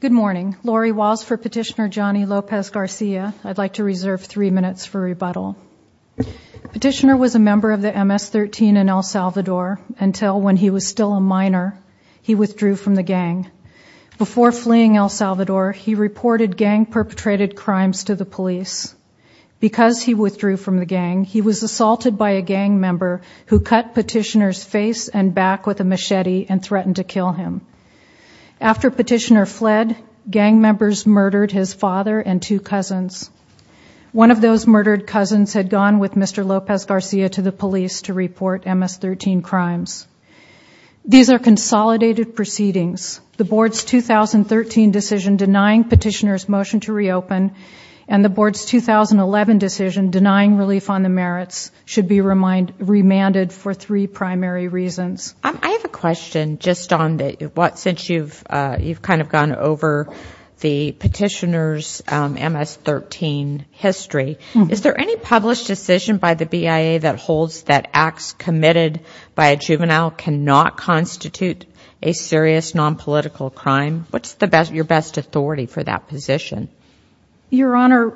Good morning. Lori Walsh for Petitioner Jhony Lopez-Garcia. I'd like to reserve three minutes for rebuttal. Petitioner was a member of the MS-13 in El Salvador until, when he was still a minor, he withdrew from the gang. Before fleeing El Salvador, he reported gang-perpetrated crimes to the police. Because he withdrew from the gang, he was assaulted by a gang member who cut Petitioner's face and back with a machete and threatened to kill him. After Petitioner fled, gang members murdered his father and two cousins. One of those murdered cousins had gone with Mr. Lopez-Garcia to the police to report MS-13 crimes. These are consolidated proceedings. The board's 2013 decision denying Petitioner's motion to reopen and the board's 2011 decision denying relief on the merits should be remanded for three primary reasons. I have a question just on what, since you've kind of gone over the Petitioner's MS-13 history, is there any published decision by the BIA that holds that acts committed by a juvenile cannot constitute a serious non-political crime? What's your best authority for that position? Your Honor,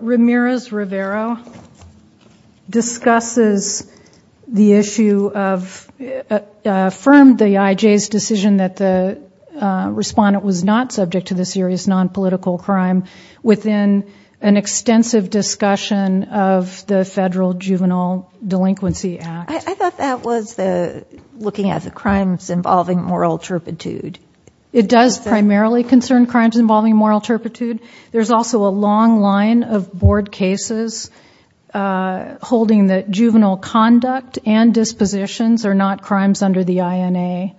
Ramirez-Rivero discusses the issue of, affirmed the IJ's decision that the respondent was not subject to the serious non-political crime within an extensive discussion of the Federal Juvenile Delinquency Act. I thought that was the looking at the crimes involving moral turpitude. It does primarily concern crimes involving moral turpitude. There's also a long line of board cases holding that juvenile conduct and dispositions are not crimes under the INA.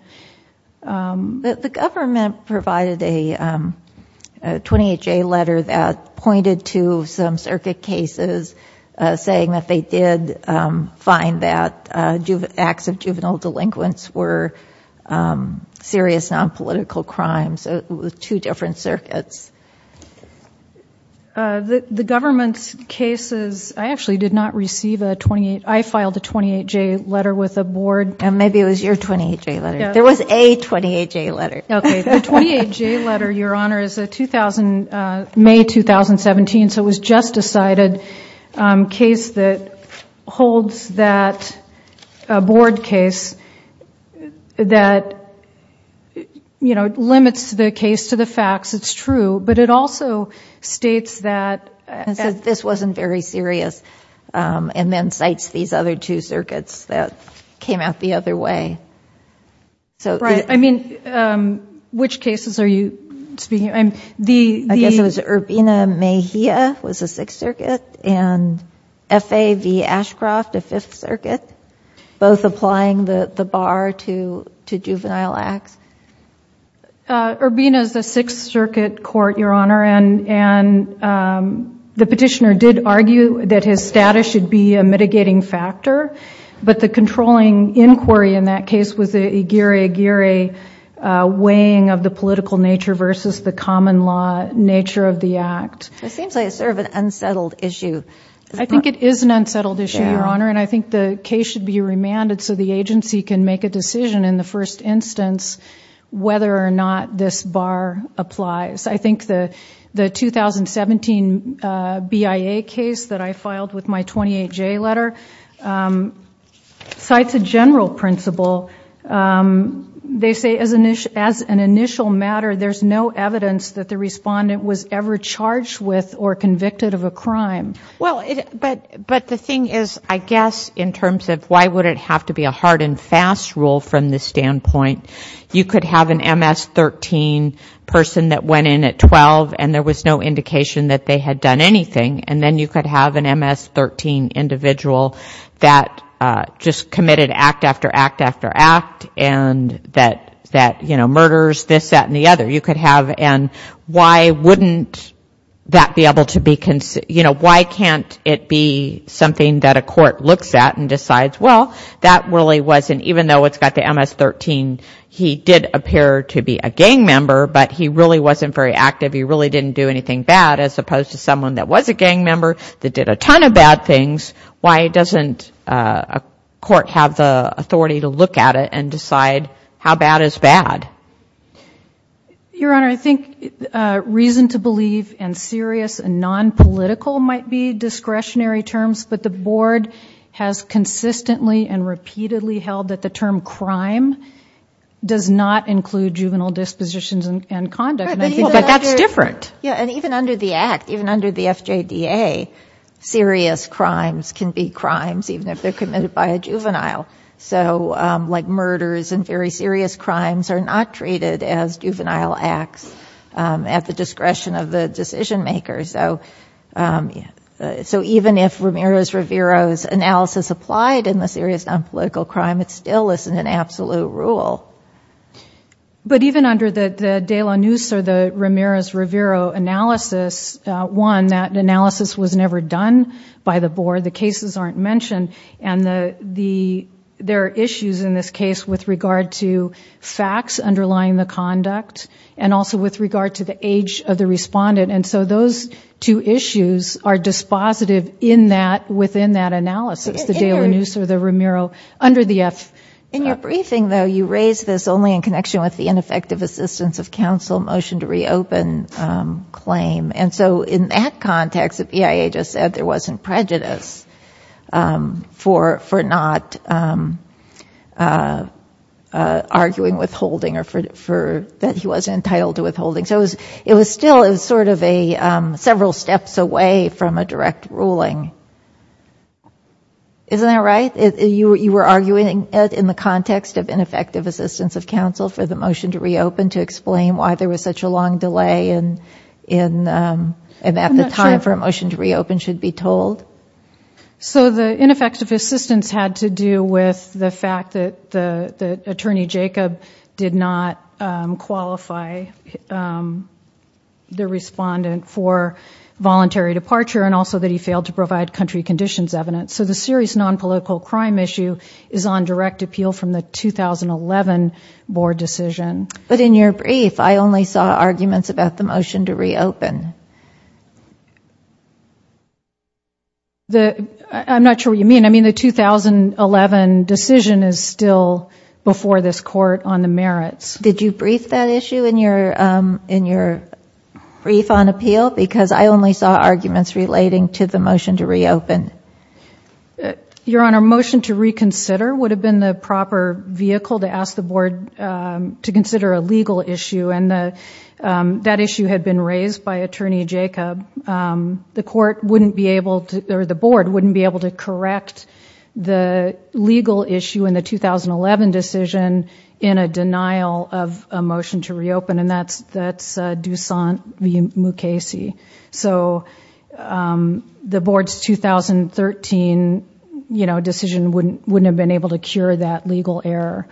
The government provided a 28-J letter that pointed to some circuit cases saying that they did find that acts of juvenile delinquents were serious non-political crimes with two different circuits. The government's cases, I actually did not receive a 28, I filed a 28-J letter with a board. Maybe it was your 28-J letter. There was a 28-J letter. Okay, the 28-J letter, Your Honor, is a 2000, May 2017, so it was just decided, case that holds that board case that, you know, limits the case to the facts, it's true, but it also states that this wasn't very serious and then cites these other two circuits that came out the other way. Right, I mean, which cases are you speaking of? I guess it was to juvenile acts? Urbina is a Sixth Circuit court, Your Honor, and the petitioner did argue that his status should be a mitigating factor, but the controlling inquiry in that case was a geary-geary weighing of the political nature versus the common law nature of the act. It seems like it's sort of an unsettled issue. I think it is an unsettled issue, Your Honor, and I think the case should be remanded so the agency can make a decision in the first instance whether or not this bar applies. I think the the 2017 BIA case that I filed with my 28-J letter cites a general principle. They say as an initial matter, there's no evidence that the respondent was ever charged with or convicted of a crime. Well, but the thing is, I guess in terms of why would it have to be a hard and fast rule from this standpoint, you could have an MS-13 person that went in at 12 and there was no indication that they had done anything, and then you could have an MS-13 individual that just committed act after act after act and that, you know, murders this, that, and the other. You could have, and why wouldn't that be able to be you know, why can't it be something that a court looks at and decides, well, that really wasn't, even though it's got the MS-13, he did appear to be a gang member, but he really wasn't very active. He really didn't do anything bad as opposed to someone that was a gang member that did a ton of bad things. Why doesn't a court have the authority to look at it and decide how bad is bad? Your Honor, I think political might be discretionary terms, but the board has consistently and repeatedly held that the term crime does not include juvenile dispositions and conduct, and I think that's different. Yeah, and even under the act, even under the FJDA, serious crimes can be crimes, even if they're committed by a juvenile. So like murders and very serious crimes are not treated as juvenile acts at the So even if Ramirez-Rivero's analysis applied in the serious non-political crime, it still isn't an absolute rule. But even under the De La Nuce or the Ramirez-Rivero analysis, one, that analysis was never done by the board, the cases aren't mentioned, and the, the, there are issues in this case with regard to facts underlying the conduct, and also with regard to the age of the issues are dispositive in that, within that analysis, the De La Nuce or the Ramirez-Rivero under the FJDA. In your briefing, though, you raised this only in connection with the ineffective assistance of counsel motion to reopen claim, and so in that context, the BIA just said there wasn't prejudice for, for not arguing withholding or for, that he wasn't entitled to withholding. So it was, still, it was sort of a several steps away from a direct ruling. Isn't that right? You, you were arguing it in the context of ineffective assistance of counsel for the motion to reopen to explain why there was such a long delay in, in, and at the time for a motion to reopen should be told? So the ineffective assistance had to do with the fact that the, the attorney Jacob did not qualify the respondent for voluntary departure, and also that he failed to provide country conditions evidence. So the serious non-political crime issue is on direct appeal from the 2011 board decision. But in your brief, I only saw in the 2011 decision is still before this court on the merits. Did you brief that issue in your, in your brief on appeal? Because I only saw arguments relating to the motion to reopen. Your Honor, motion to reconsider would have been the proper vehicle to ask the board to consider a legal issue, and the, that issue had been raised by attorney Jacob. The court wouldn't be able to, or the legal issue in the 2011 decision in a denial of a motion to reopen, and that's, that's Doussaint v. Mukasey. So the board's 2013, you know, decision wouldn't, wouldn't have been able to cure that legal error.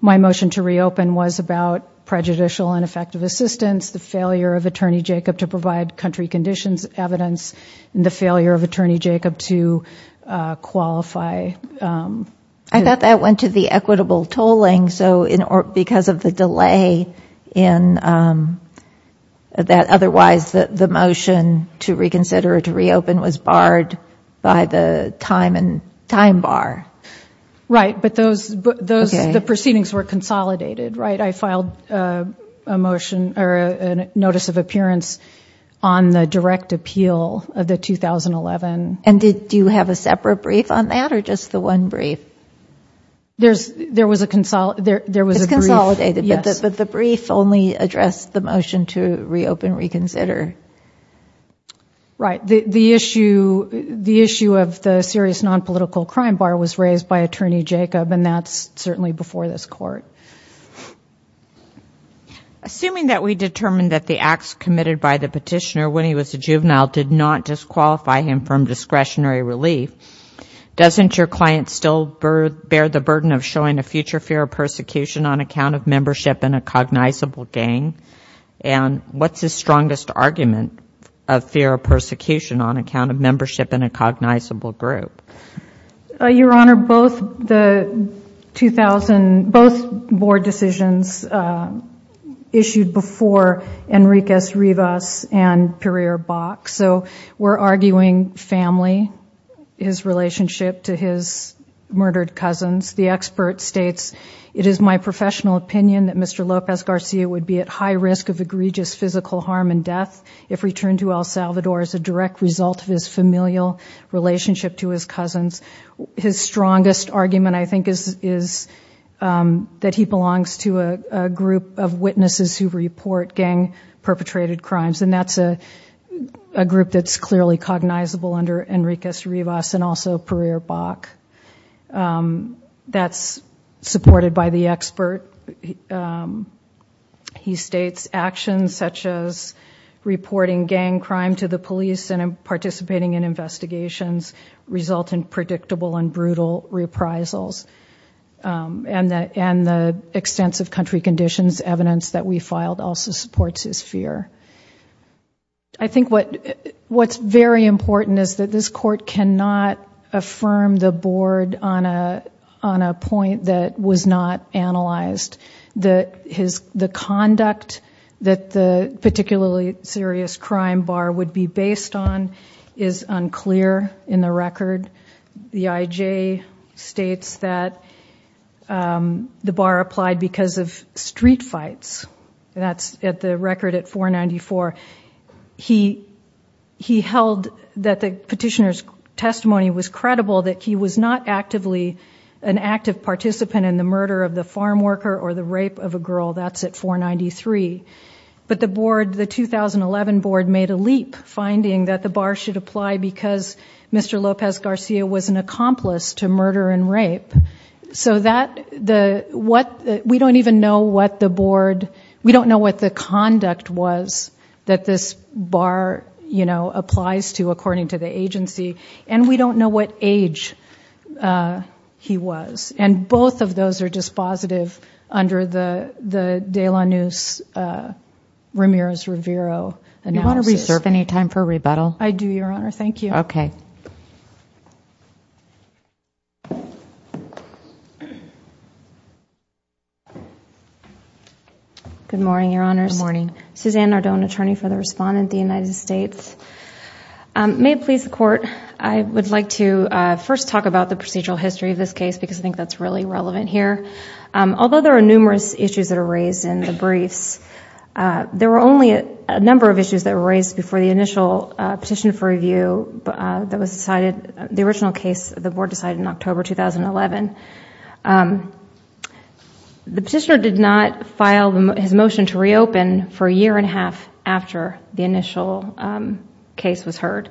My motion to reopen was about prejudicial and effective assistance, the failure of attorney Jacob to provide country conditions evidence, and the failure of attorney Jacob to qualify. I thought that went to the equitable tolling, so in, or because of the delay in that, otherwise that the motion to reconsider or to reopen was barred by the time and time bar. Right, but those, those, the proceedings were consolidated, right? I filed a motion, or a notice of appearance on the direct appeal of the 2011. And did, do you have a separate brief on that, or just the one brief? There's, there was a, there was a brief. It's consolidated, but the brief only addressed the motion to reopen, reconsider. Right, the, the issue, the issue of the serious non-political crime bar was raised by attorney Jacob, and that's certainly before this court. Assuming that we determined that the acts committed by the petitioner when he was a juvenile did not disqualify him from discretionary relief, doesn't your client still bear the burden of showing a future fear of persecution on account of membership in a cognizable gang? And what's his strongest argument of fear of persecution on account of membership in a cognizable group? Your Honor, both the 2000, both board decisions issued before Enriquez, Rivas, and Pereira-Bach. So we're arguing family, his relationship to his murdered cousins. The expert states, it is my professional opinion that Mr. Lopez Garcia would be at high risk of egregious physical harm and death if returned to El Salvador as a direct result of his familial relationship to his cousins. His strongest argument, I think, is, is that he belongs to a, a group that's clearly cognizable under Enriquez, Rivas, and also Pereira-Bach. That's supported by the expert. He states, actions such as reporting gang crime to the police and participating in investigations result in predictable and brutal reprisals. And that, and the extensive country conditions evidence that we filed also supports his fear. I think what, what's very important is that this court cannot affirm the board on a, on a point that was not analyzed. That his, the conduct that the particularly serious crime bar would be based on is unclear in the record. The IJ states that the bar applied because of street fights, and that's at the record at 494. He, he held that the petitioner's testimony was credible, that he was not actively an active participant in the murder of the farm worker or the rape of a girl. That's at 493. But the board, the 2011 board, made a leap finding that the bar should apply because Mr. Lopez Garcia was an accomplice to murder and rape. So that, the, what, we don't even know what the we don't know what the conduct was that this bar, you know, applies to according to the agency. And we don't know what age he was. And both of those are dispositive under the, the De La Nuz, Ramirez-Rivero. You want to reserve any time for rebuttal? I do, Your Honor. Thank you. Okay. Good morning, Your Honors. Good morning. Suzanne Nardone, attorney for the respondent, the United States. May it please the court, I would like to first talk about the procedural history of this case because I think that's really relevant here. Although there are numerous issues that are raised in the briefs, there were only a number of issues that were raised before the initial petition for review that was decided, the original case, the board decided in October 2011. The motion to reopen for a year and a half after the initial case was heard.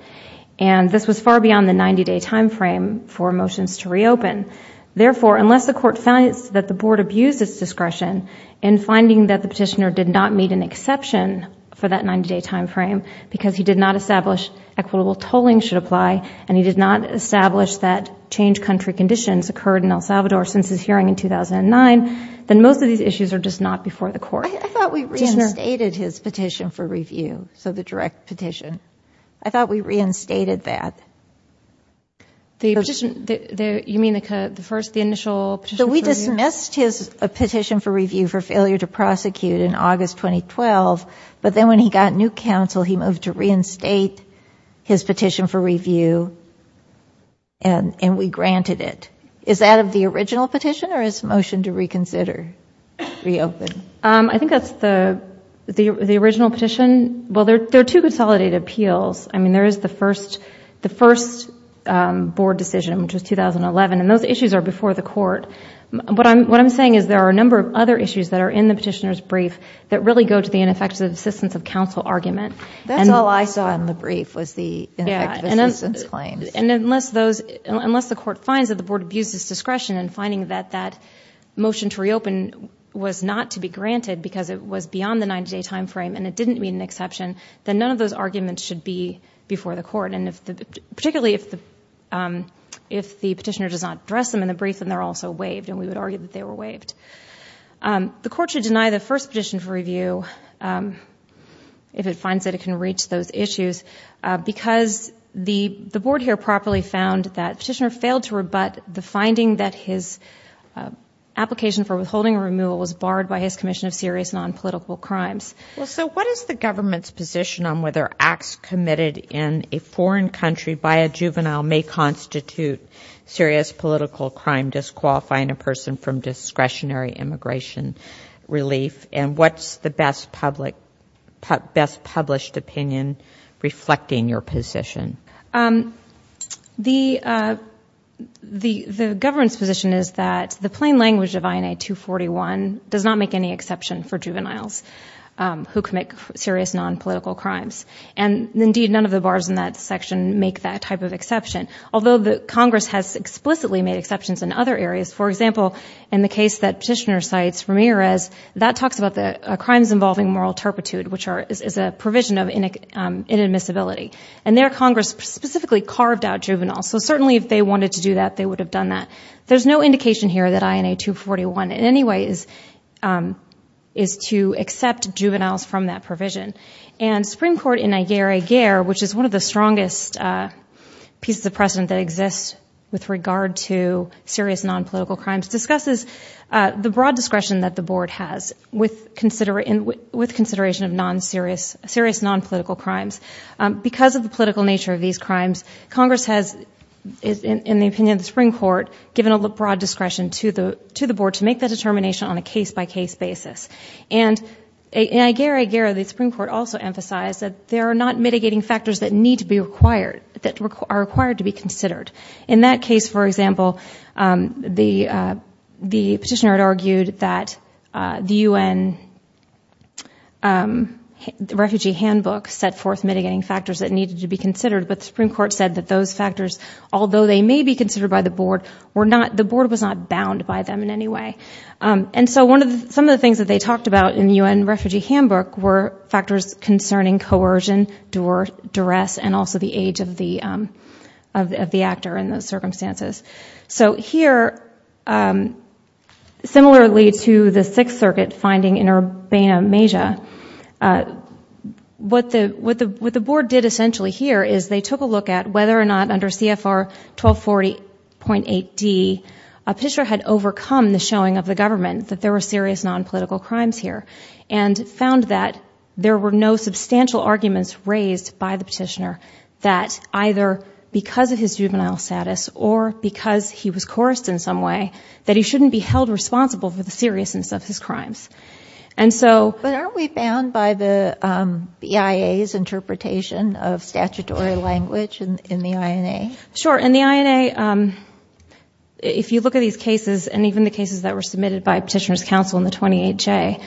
And this was far beyond the 90-day timeframe for motions to reopen. Therefore, unless the court finds that the board abused its discretion in finding that the petitioner did not meet an exception for that 90-day timeframe because he did not establish equitable tolling should apply and he did not establish that change country conditions occurred in El Salvador since his hearing in 2009, then both of these issues are just not before the court. I thought we reinstated his petition for review, so the direct petition. I thought we reinstated that. The petition, you mean the first, the initial petition for review? We dismissed his petition for review for failure to prosecute in August 2012, but then when he got new counsel, he moved to reinstate his petition for review and we continued to reconsider, reopen. I think that's the the original petition. Well, there are two consolidated appeals. I mean, there is the first the first board decision, which was 2011, and those issues are before the court. But what I'm saying is there are a number of other issues that are in the petitioner's brief that really go to the ineffective assistance of counsel argument. That's all I saw in the brief was the ineffective assistance claims. And unless those, unless the motion to reopen was not to be granted because it was beyond the 90-day time frame and it didn't meet an exception, then none of those arguments should be before the court. And particularly if the petitioner does not address them in the brief and they're also waived, and we would argue that they were waived. The court should deny the first petition for review if it finds that it can reach those issues because the the board here properly found that petitioner failed to application for withholding removal was barred by his Commission of serious non-political crimes. Well, so what is the government's position on whether acts committed in a foreign country by a juvenile may constitute serious political crime disqualifying a person from discretionary immigration relief? And what's the best public best published opinion reflecting your position? The government's position is that the plain language of INA 241 does not make any exception for juveniles who commit serious non-political crimes. And indeed none of the bars in that section make that type of exception. Although the Congress has explicitly made exceptions in other areas. For example, in the case that petitioner cites Ramirez, that talks about the crimes involving moral disability. And their Congress specifically carved out juveniles. So certainly if they wanted to do that they would have done that. There's no indication here that INA 241 in any way is to accept juveniles from that provision. And Supreme Court in Nigeria, which is one of the strongest pieces of precedent that exists with regard to serious non-political crimes, discusses the broad discretion that the board has with consideration of non-serious non-political crimes. Because of the political nature of these crimes, Congress has, in the opinion of the Supreme Court, given a broad discretion to the board to make the determination on a case-by-case basis. And in Aigera-Agera, the Supreme Court also emphasized that there are not mitigating factors that need to be required, that are required to be considered. In that case, for example, the Refugee Handbook set forth mitigating factors that needed to be considered, but the Supreme Court said that those factors, although they may be considered by the board, were not, the board was not bound by them in any way. And so one of the, some of the things that they talked about in the UN Refugee Handbook were factors concerning coercion, duress, and also the age of the of the actor in those circumstances. So here, similarly to the Sixth Circuit finding in Urbana-Mesha, what the, what the, what the board did essentially here is they took a look at whether or not under CFR 1240.8d, a petitioner had overcome the showing of the government that there were serious non-political crimes here, and found that there were no substantial arguments raised by the petitioner that either because of his juvenile status or because he was coerced in some way, that he shouldn't be held responsible for the seriousness of his crimes. And so, but aren't we bound by the BIA's interpretation of statutory language in the INA? Sure. In the INA, if you look at these cases, and even the cases that were submitted by Petitioner's Council in the 28J,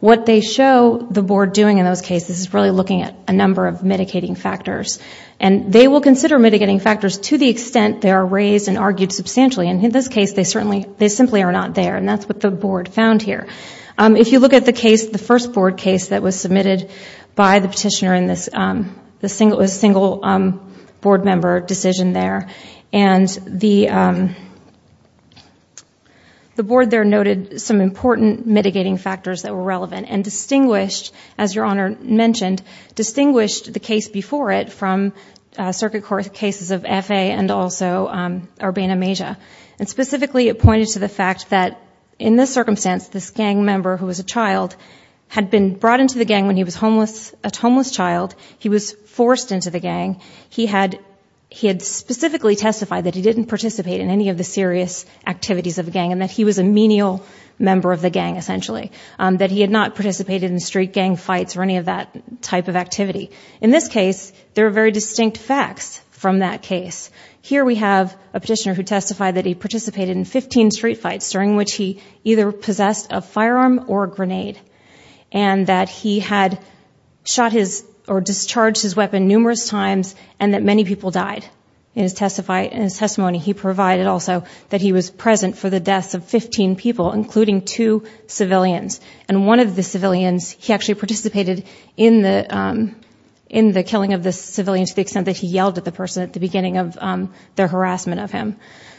what they show the board doing in those cases is really looking at a number of mitigating factors. And they will consider mitigating factors to the extent they are raised and argued substantially. And in this case, they certainly, they simply are not there. And that's what the board found here. If you look at the case, the first board case that was submitted by the petitioner in this, it was a single board member decision there. And the board there noted some important mitigating factors that were relevant. And distinguished, as Your Honor mentioned, distinguished the case before it from circuit court cases of F.A. and also Urbana-Mesa. And specifically it pointed to the fact that in this circumstance, this gang member who was a child had been brought into the gang when he was homeless, a homeless child. He was forced into the gang. He had specifically testified that he didn't participate in any of the serious activities of the gang and that he was a menial member of the gang, essentially. That he had not participated in street gang fights or any of that type of activity. In this case, there are very distinct facts from that case. Here we have a 15 street fights during which he either possessed a firearm or a grenade. And that he had shot his or discharged his weapon numerous times and that many people died. In his testimony, he provided also that he was present for the deaths of 15 people, including two civilians. And one of the civilians, he actually participated in the killing of this civilian to the extent that he yelled at the person at the beginning of their harassment of him.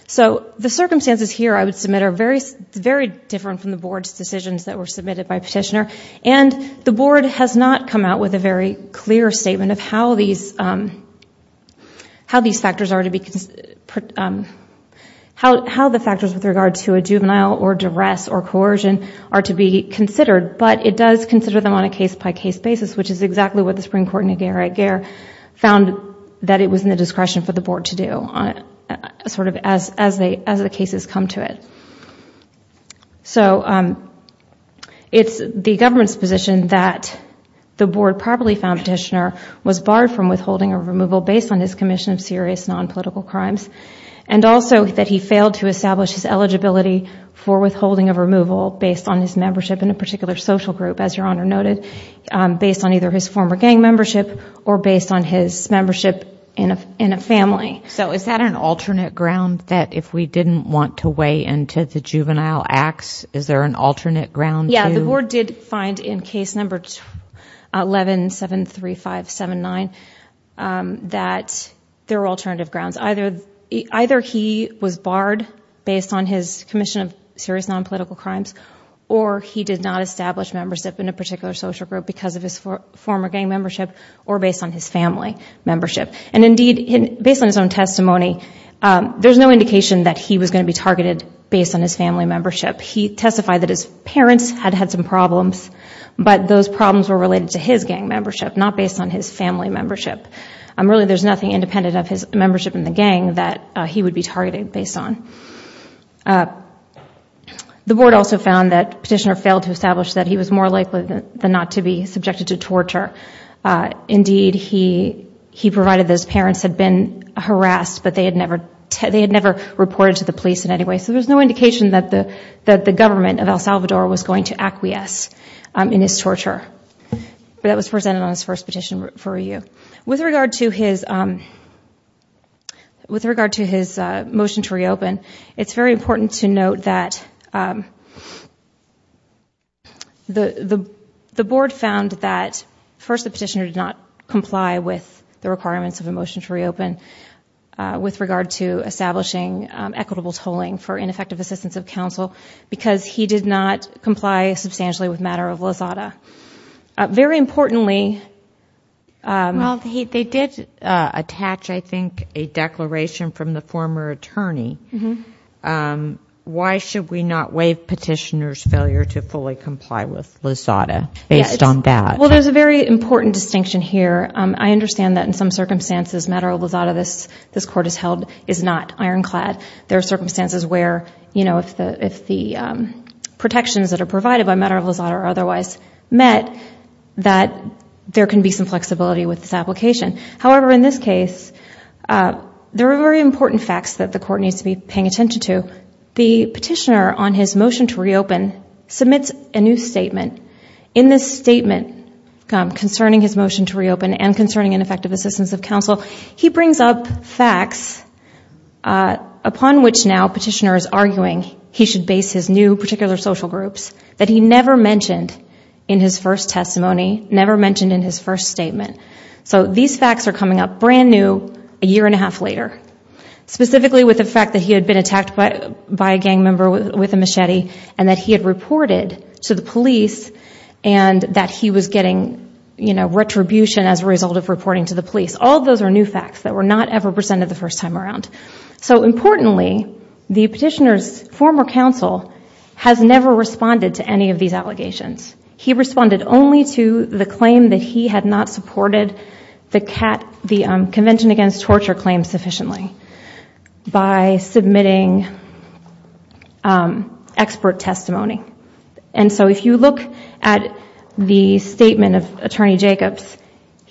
So the circumstances here I would submit are very different from the board's decisions that were submitted by petitioner. And the board has not come out with a very clear statement of how these factors are to be considered. How the factors with regard to a juvenile or duress or coercion are to be considered. But it does consider them on a case-by-case basis, which is exactly what the Supreme Court in Niagara-Gare found that it was in the discretion for the board to do, sort of as the cases come to it. So it's the government's position that the board probably found petitioner was barred from withholding or removal based on his commission of serious non-political crimes. And also that he failed to establish his eligibility for withholding of removal based on his membership in a particular social group, as Your Honor noted, based on either his former gang membership or based on his membership in a family. So is that an alternate ground that if we didn't want to weigh into the juvenile acts, is there an alternate ground? Yeah, the board did find in case number 11-735-79 that there were alternative grounds. Either he was barred based on his commission of serious non-political crimes or he did not establish membership in a particular social group because of his former gang membership or based on his family membership. And indeed, based on his own testimony, there's no indication that he was going to be targeted based on his family membership. He testified that his parents had had some problems, but those problems were related to his gang membership, not based on his family membership. Really, there's nothing independent of his membership in the gang that he would be targeted based on. The board also found that petitioner failed to establish that he was more likely than not to be subjected to torture. Indeed, he provided that his parents had been harassed, but they had never reported to the police in any way. So there's no indication that the government of El Salvador was going to acquiesce in his torture. That was presented on his first petition for you. With regard to his motion to reopen, it's very important to note that the board found that first the petitioner did not comply with the requirements of a motion to reopen with regard to establishing equitable tolling for ineffective assistance of counsel because he did not comply substantially with matter of Lozada. Very importantly... Well, they did attach, I think, a declaration from the former attorney. Why should we not waive petitioner's failure to fully comply with Lozada based on that? Well, there's a very important distinction here. I understand that in some circumstances, matter of Lozada, this this court has held is not ironclad. There are circumstances where, you know, if the protections that are provided by matter of Lozada are otherwise met, that there can be some flexibility with this application. However, in this case, there are very important facts that the court needs to be paying attention to. The petitioner on this statement concerning his motion to reopen and concerning ineffective assistance of counsel, he brings up facts upon which now petitioner is arguing he should base his new particular social groups that he never mentioned in his first testimony, never mentioned in his first statement. So these facts are coming up brand new a year and a half later, specifically with the fact that he had been attacked by a gang member with a machete and that he had to the police and that he was getting, you know, retribution as a result of reporting to the police. All those are new facts that were not ever presented the first time around. So importantly, the petitioner's former counsel has never responded to any of these allegations. He responded only to the claim that he had not supported the Convention Against Torture claim sufficiently by submitting expert testimony. And so if you look at the statement of Attorney Jacobs,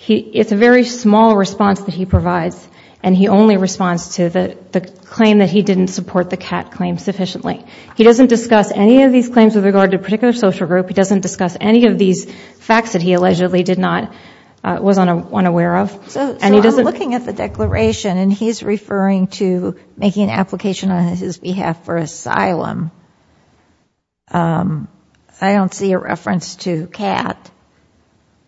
it's a very small response that he provides and he only responds to the claim that he didn't support the CAT claim sufficiently. He doesn't discuss any of these claims with regard to a particular social group. He doesn't discuss any of these facts that he allegedly did not, was unaware of. So I'm looking at the declaration and he's referring to making an application on his behalf for asylum. I don't see a reference to CAT.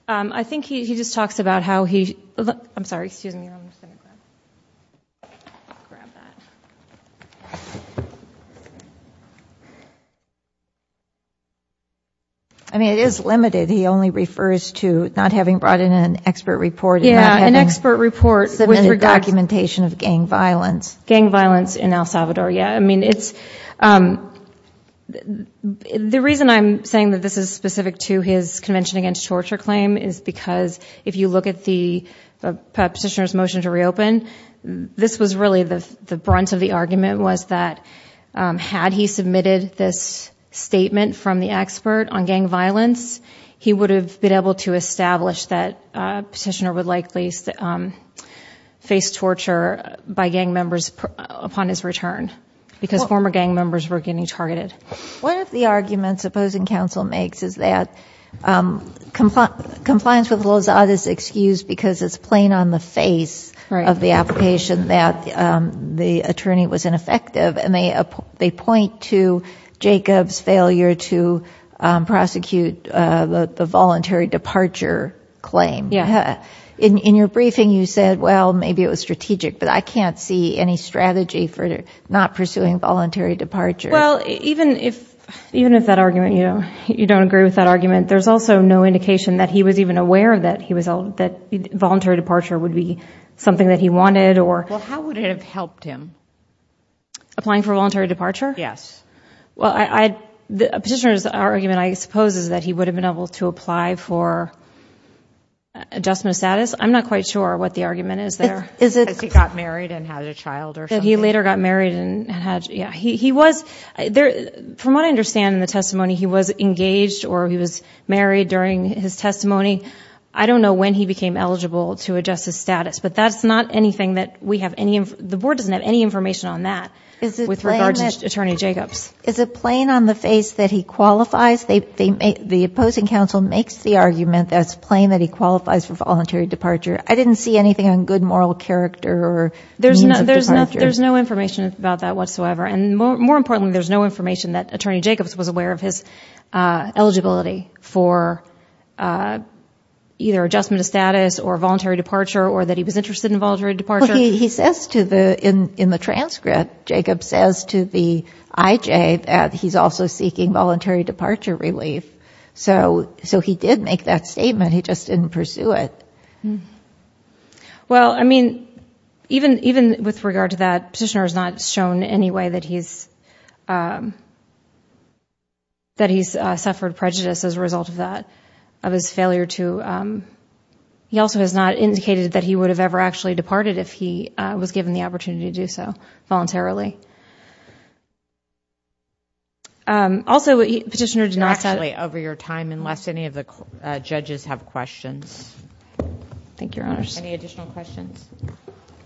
I think he just talks about how he, I'm sorry, excuse me, I'm just going to grab that. I mean it is limited. He only refers to not having brought in an expert report. Yeah, an expert report. Submitted documentation of gang violence. Gang violence in El Salvador, yeah. I mean it's, the reason I'm saying that this is specific to his Convention Against Torture claim is because if you look at the petitioner's motion to reopen, this was really the brunt of the argument was that had he submitted this statement from the expert on gang violence, he would have been able to establish that petitioner would likely face torture by gang members upon his return because former gang members were getting targeted. One of the arguments opposing counsel makes is that compliance with Lozada's excuse because it's plain on the face of the application that the attorney was ineffective and they point to Jacob's failure to prosecute the voluntary departure claim. In your briefing you said, well maybe it was strategic, but I can't see any strategy for not pursuing voluntary departure. Well even if that argument, you know, you don't agree with that argument, there's also no indication that he was even aware that he was, that voluntary departure would be something that he wanted or... Well how would it have helped him? Applying for voluntary departure? Yes. Well I, the petitioner's argument I suppose is that he would have been able to apply for adjustment of status. I'm not quite sure what the argument is there. Is it because he got married and had a child or something? He later got married and had, yeah, he was there, from what I understand in the testimony he was engaged or he was married during his testimony. I don't know when he became eligible to adjust his status, but that's not anything that we have any, the board doesn't have any information on that with regard to Attorney Jacobs. Is it plain on the face that he qualifies? They, they make, the opposing council makes the argument that it's plain that he qualifies for voluntary departure. I didn't see anything on good moral character or... There's no, there's no, there's no information about that whatsoever. And more, more importantly, there's no information that Attorney Jacobs was aware of his eligibility for either adjustment of status or voluntary departure or that he was interested in voluntary departure. He says to the, in the transcript, Jacob says to the IJ that he's also seeking voluntary departure relief. So, so he did make that statement. He just didn't pursue it. Well, I mean, even, even with regard to that, Petitioner has not shown any way that he's, that he's suffered prejudice as a result of that, of his failure to, he also has not indicated that he would have ever actually departed if he was given the opportunity to do so voluntarily. Also Petitioner did not say... We're actually over your time unless any of the judges have questions. Thank you, Your Honors. Any additional questions?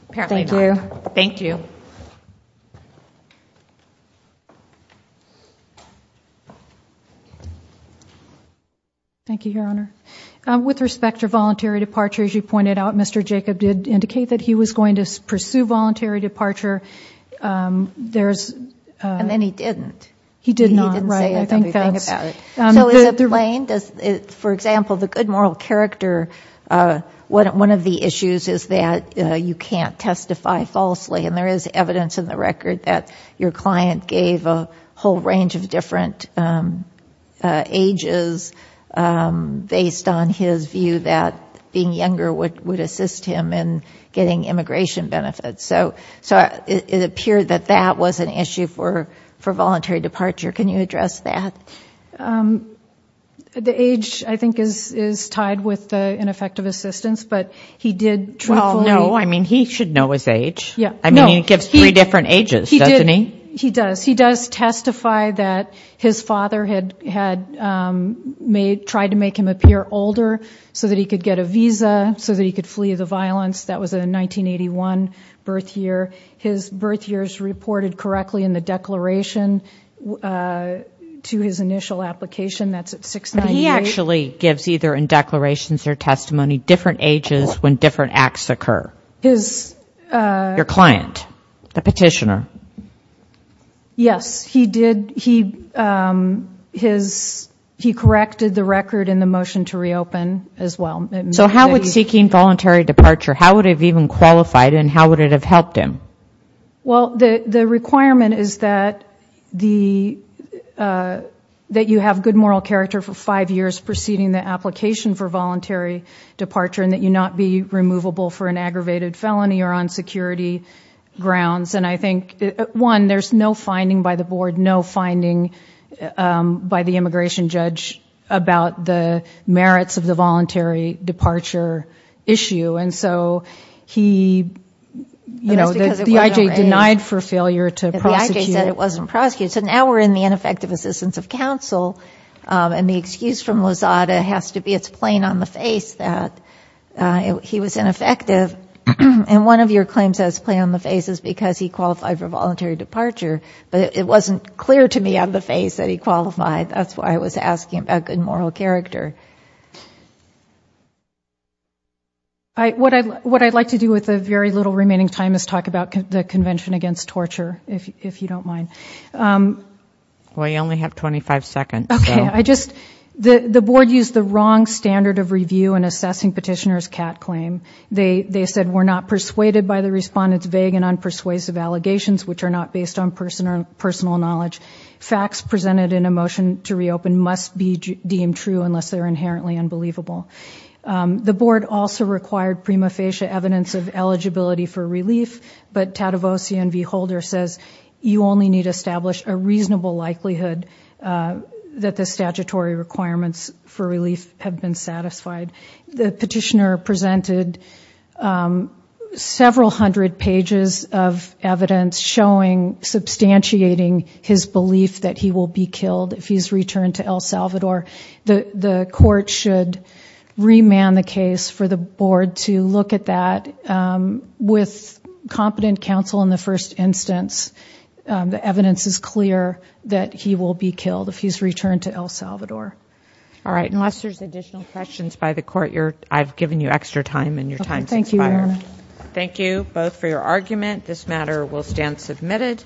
Apparently not. Thank you. Thank you. Thank you, Your Honor. With respect to voluntary departure, as you pointed out, Mr. Jacob did indicate that he was going to pursue voluntary departure. There's... And then he didn't. He did not. He didn't say anything about it. Right, I think that's... So is it plain? Does, for example, the good moral character, one of the issues is that you can't testify falsely and there is evidence in the record that your client gave a whole range of different ages based on his view that being younger would assist him in getting immigration benefits. So it appeared that that was an issue for voluntary departure. Can you address that? The age, I think, is tied with the ineffective assistance, but he did truthfully... Well, no, I mean, he should know his age. Yeah, no. I mean, he gives three different ages, doesn't he? He does. He does testify that his father had tried to make him appear older so that he could get a visa, so that he could flee the violence. That was a 1981 birth year. His birth years reported correctly in the declaration to his initial application. That's at 698. He actually gives, either in declarations or testimony, different ages when different acts occur. His... Your client, the petitioner. Yes, he did. He corrected the record in the motion to reopen, as well. So how would seeking voluntary departure, how would it have even qualified and how would it have helped him? Well, the requirement is that you have good moral character for five years preceding the application for voluntary departure and that you not be One, there's no finding by the board, no finding by the immigration judge about the merits of the voluntary departure issue. And so he, the IJ denied for failure to prosecute. The IJ said it wasn't prosecuted. So now we're in the ineffective assistance of counsel and the excuse from Lozada has to be it's plain on the face that he was ineffective. And one of your claims that it's plain on the face is because he qualified for voluntary departure, but it wasn't clear to me on the face that he qualified. That's why I was asking about good moral character. What I'd like to do with the very little remaining time is talk about the Convention Against Torture, if you don't mind. Well, you only have 25 seconds. Okay. I just... The board used the wrong standard of review in assessing petitioner's CAT claim. They said we're not persuaded by the respondent's vague and unpersuasive allegations, which are not based on personal knowledge. Facts presented in a motion to reopen must be deemed true unless they're inherently unbelievable. The board also required prima facie evidence of eligibility for relief, but Tadevossian v. Holder says you only need to establish a reasonable likelihood that the statutory requirements for relief have been satisfied. The petitioner presented several hundred pages of evidence showing, substantiating his belief that he will be killed if he's returned to El Salvador. The court should remand the case for the board to look at that with competent counsel in the first instance. The evidence is clear that he will be killed if he's returned to El Salvador. All right. Unless there's additional questions by the court, I've given you extra time and your time's expired. Thank you both for your argument. This matter will stand submitted.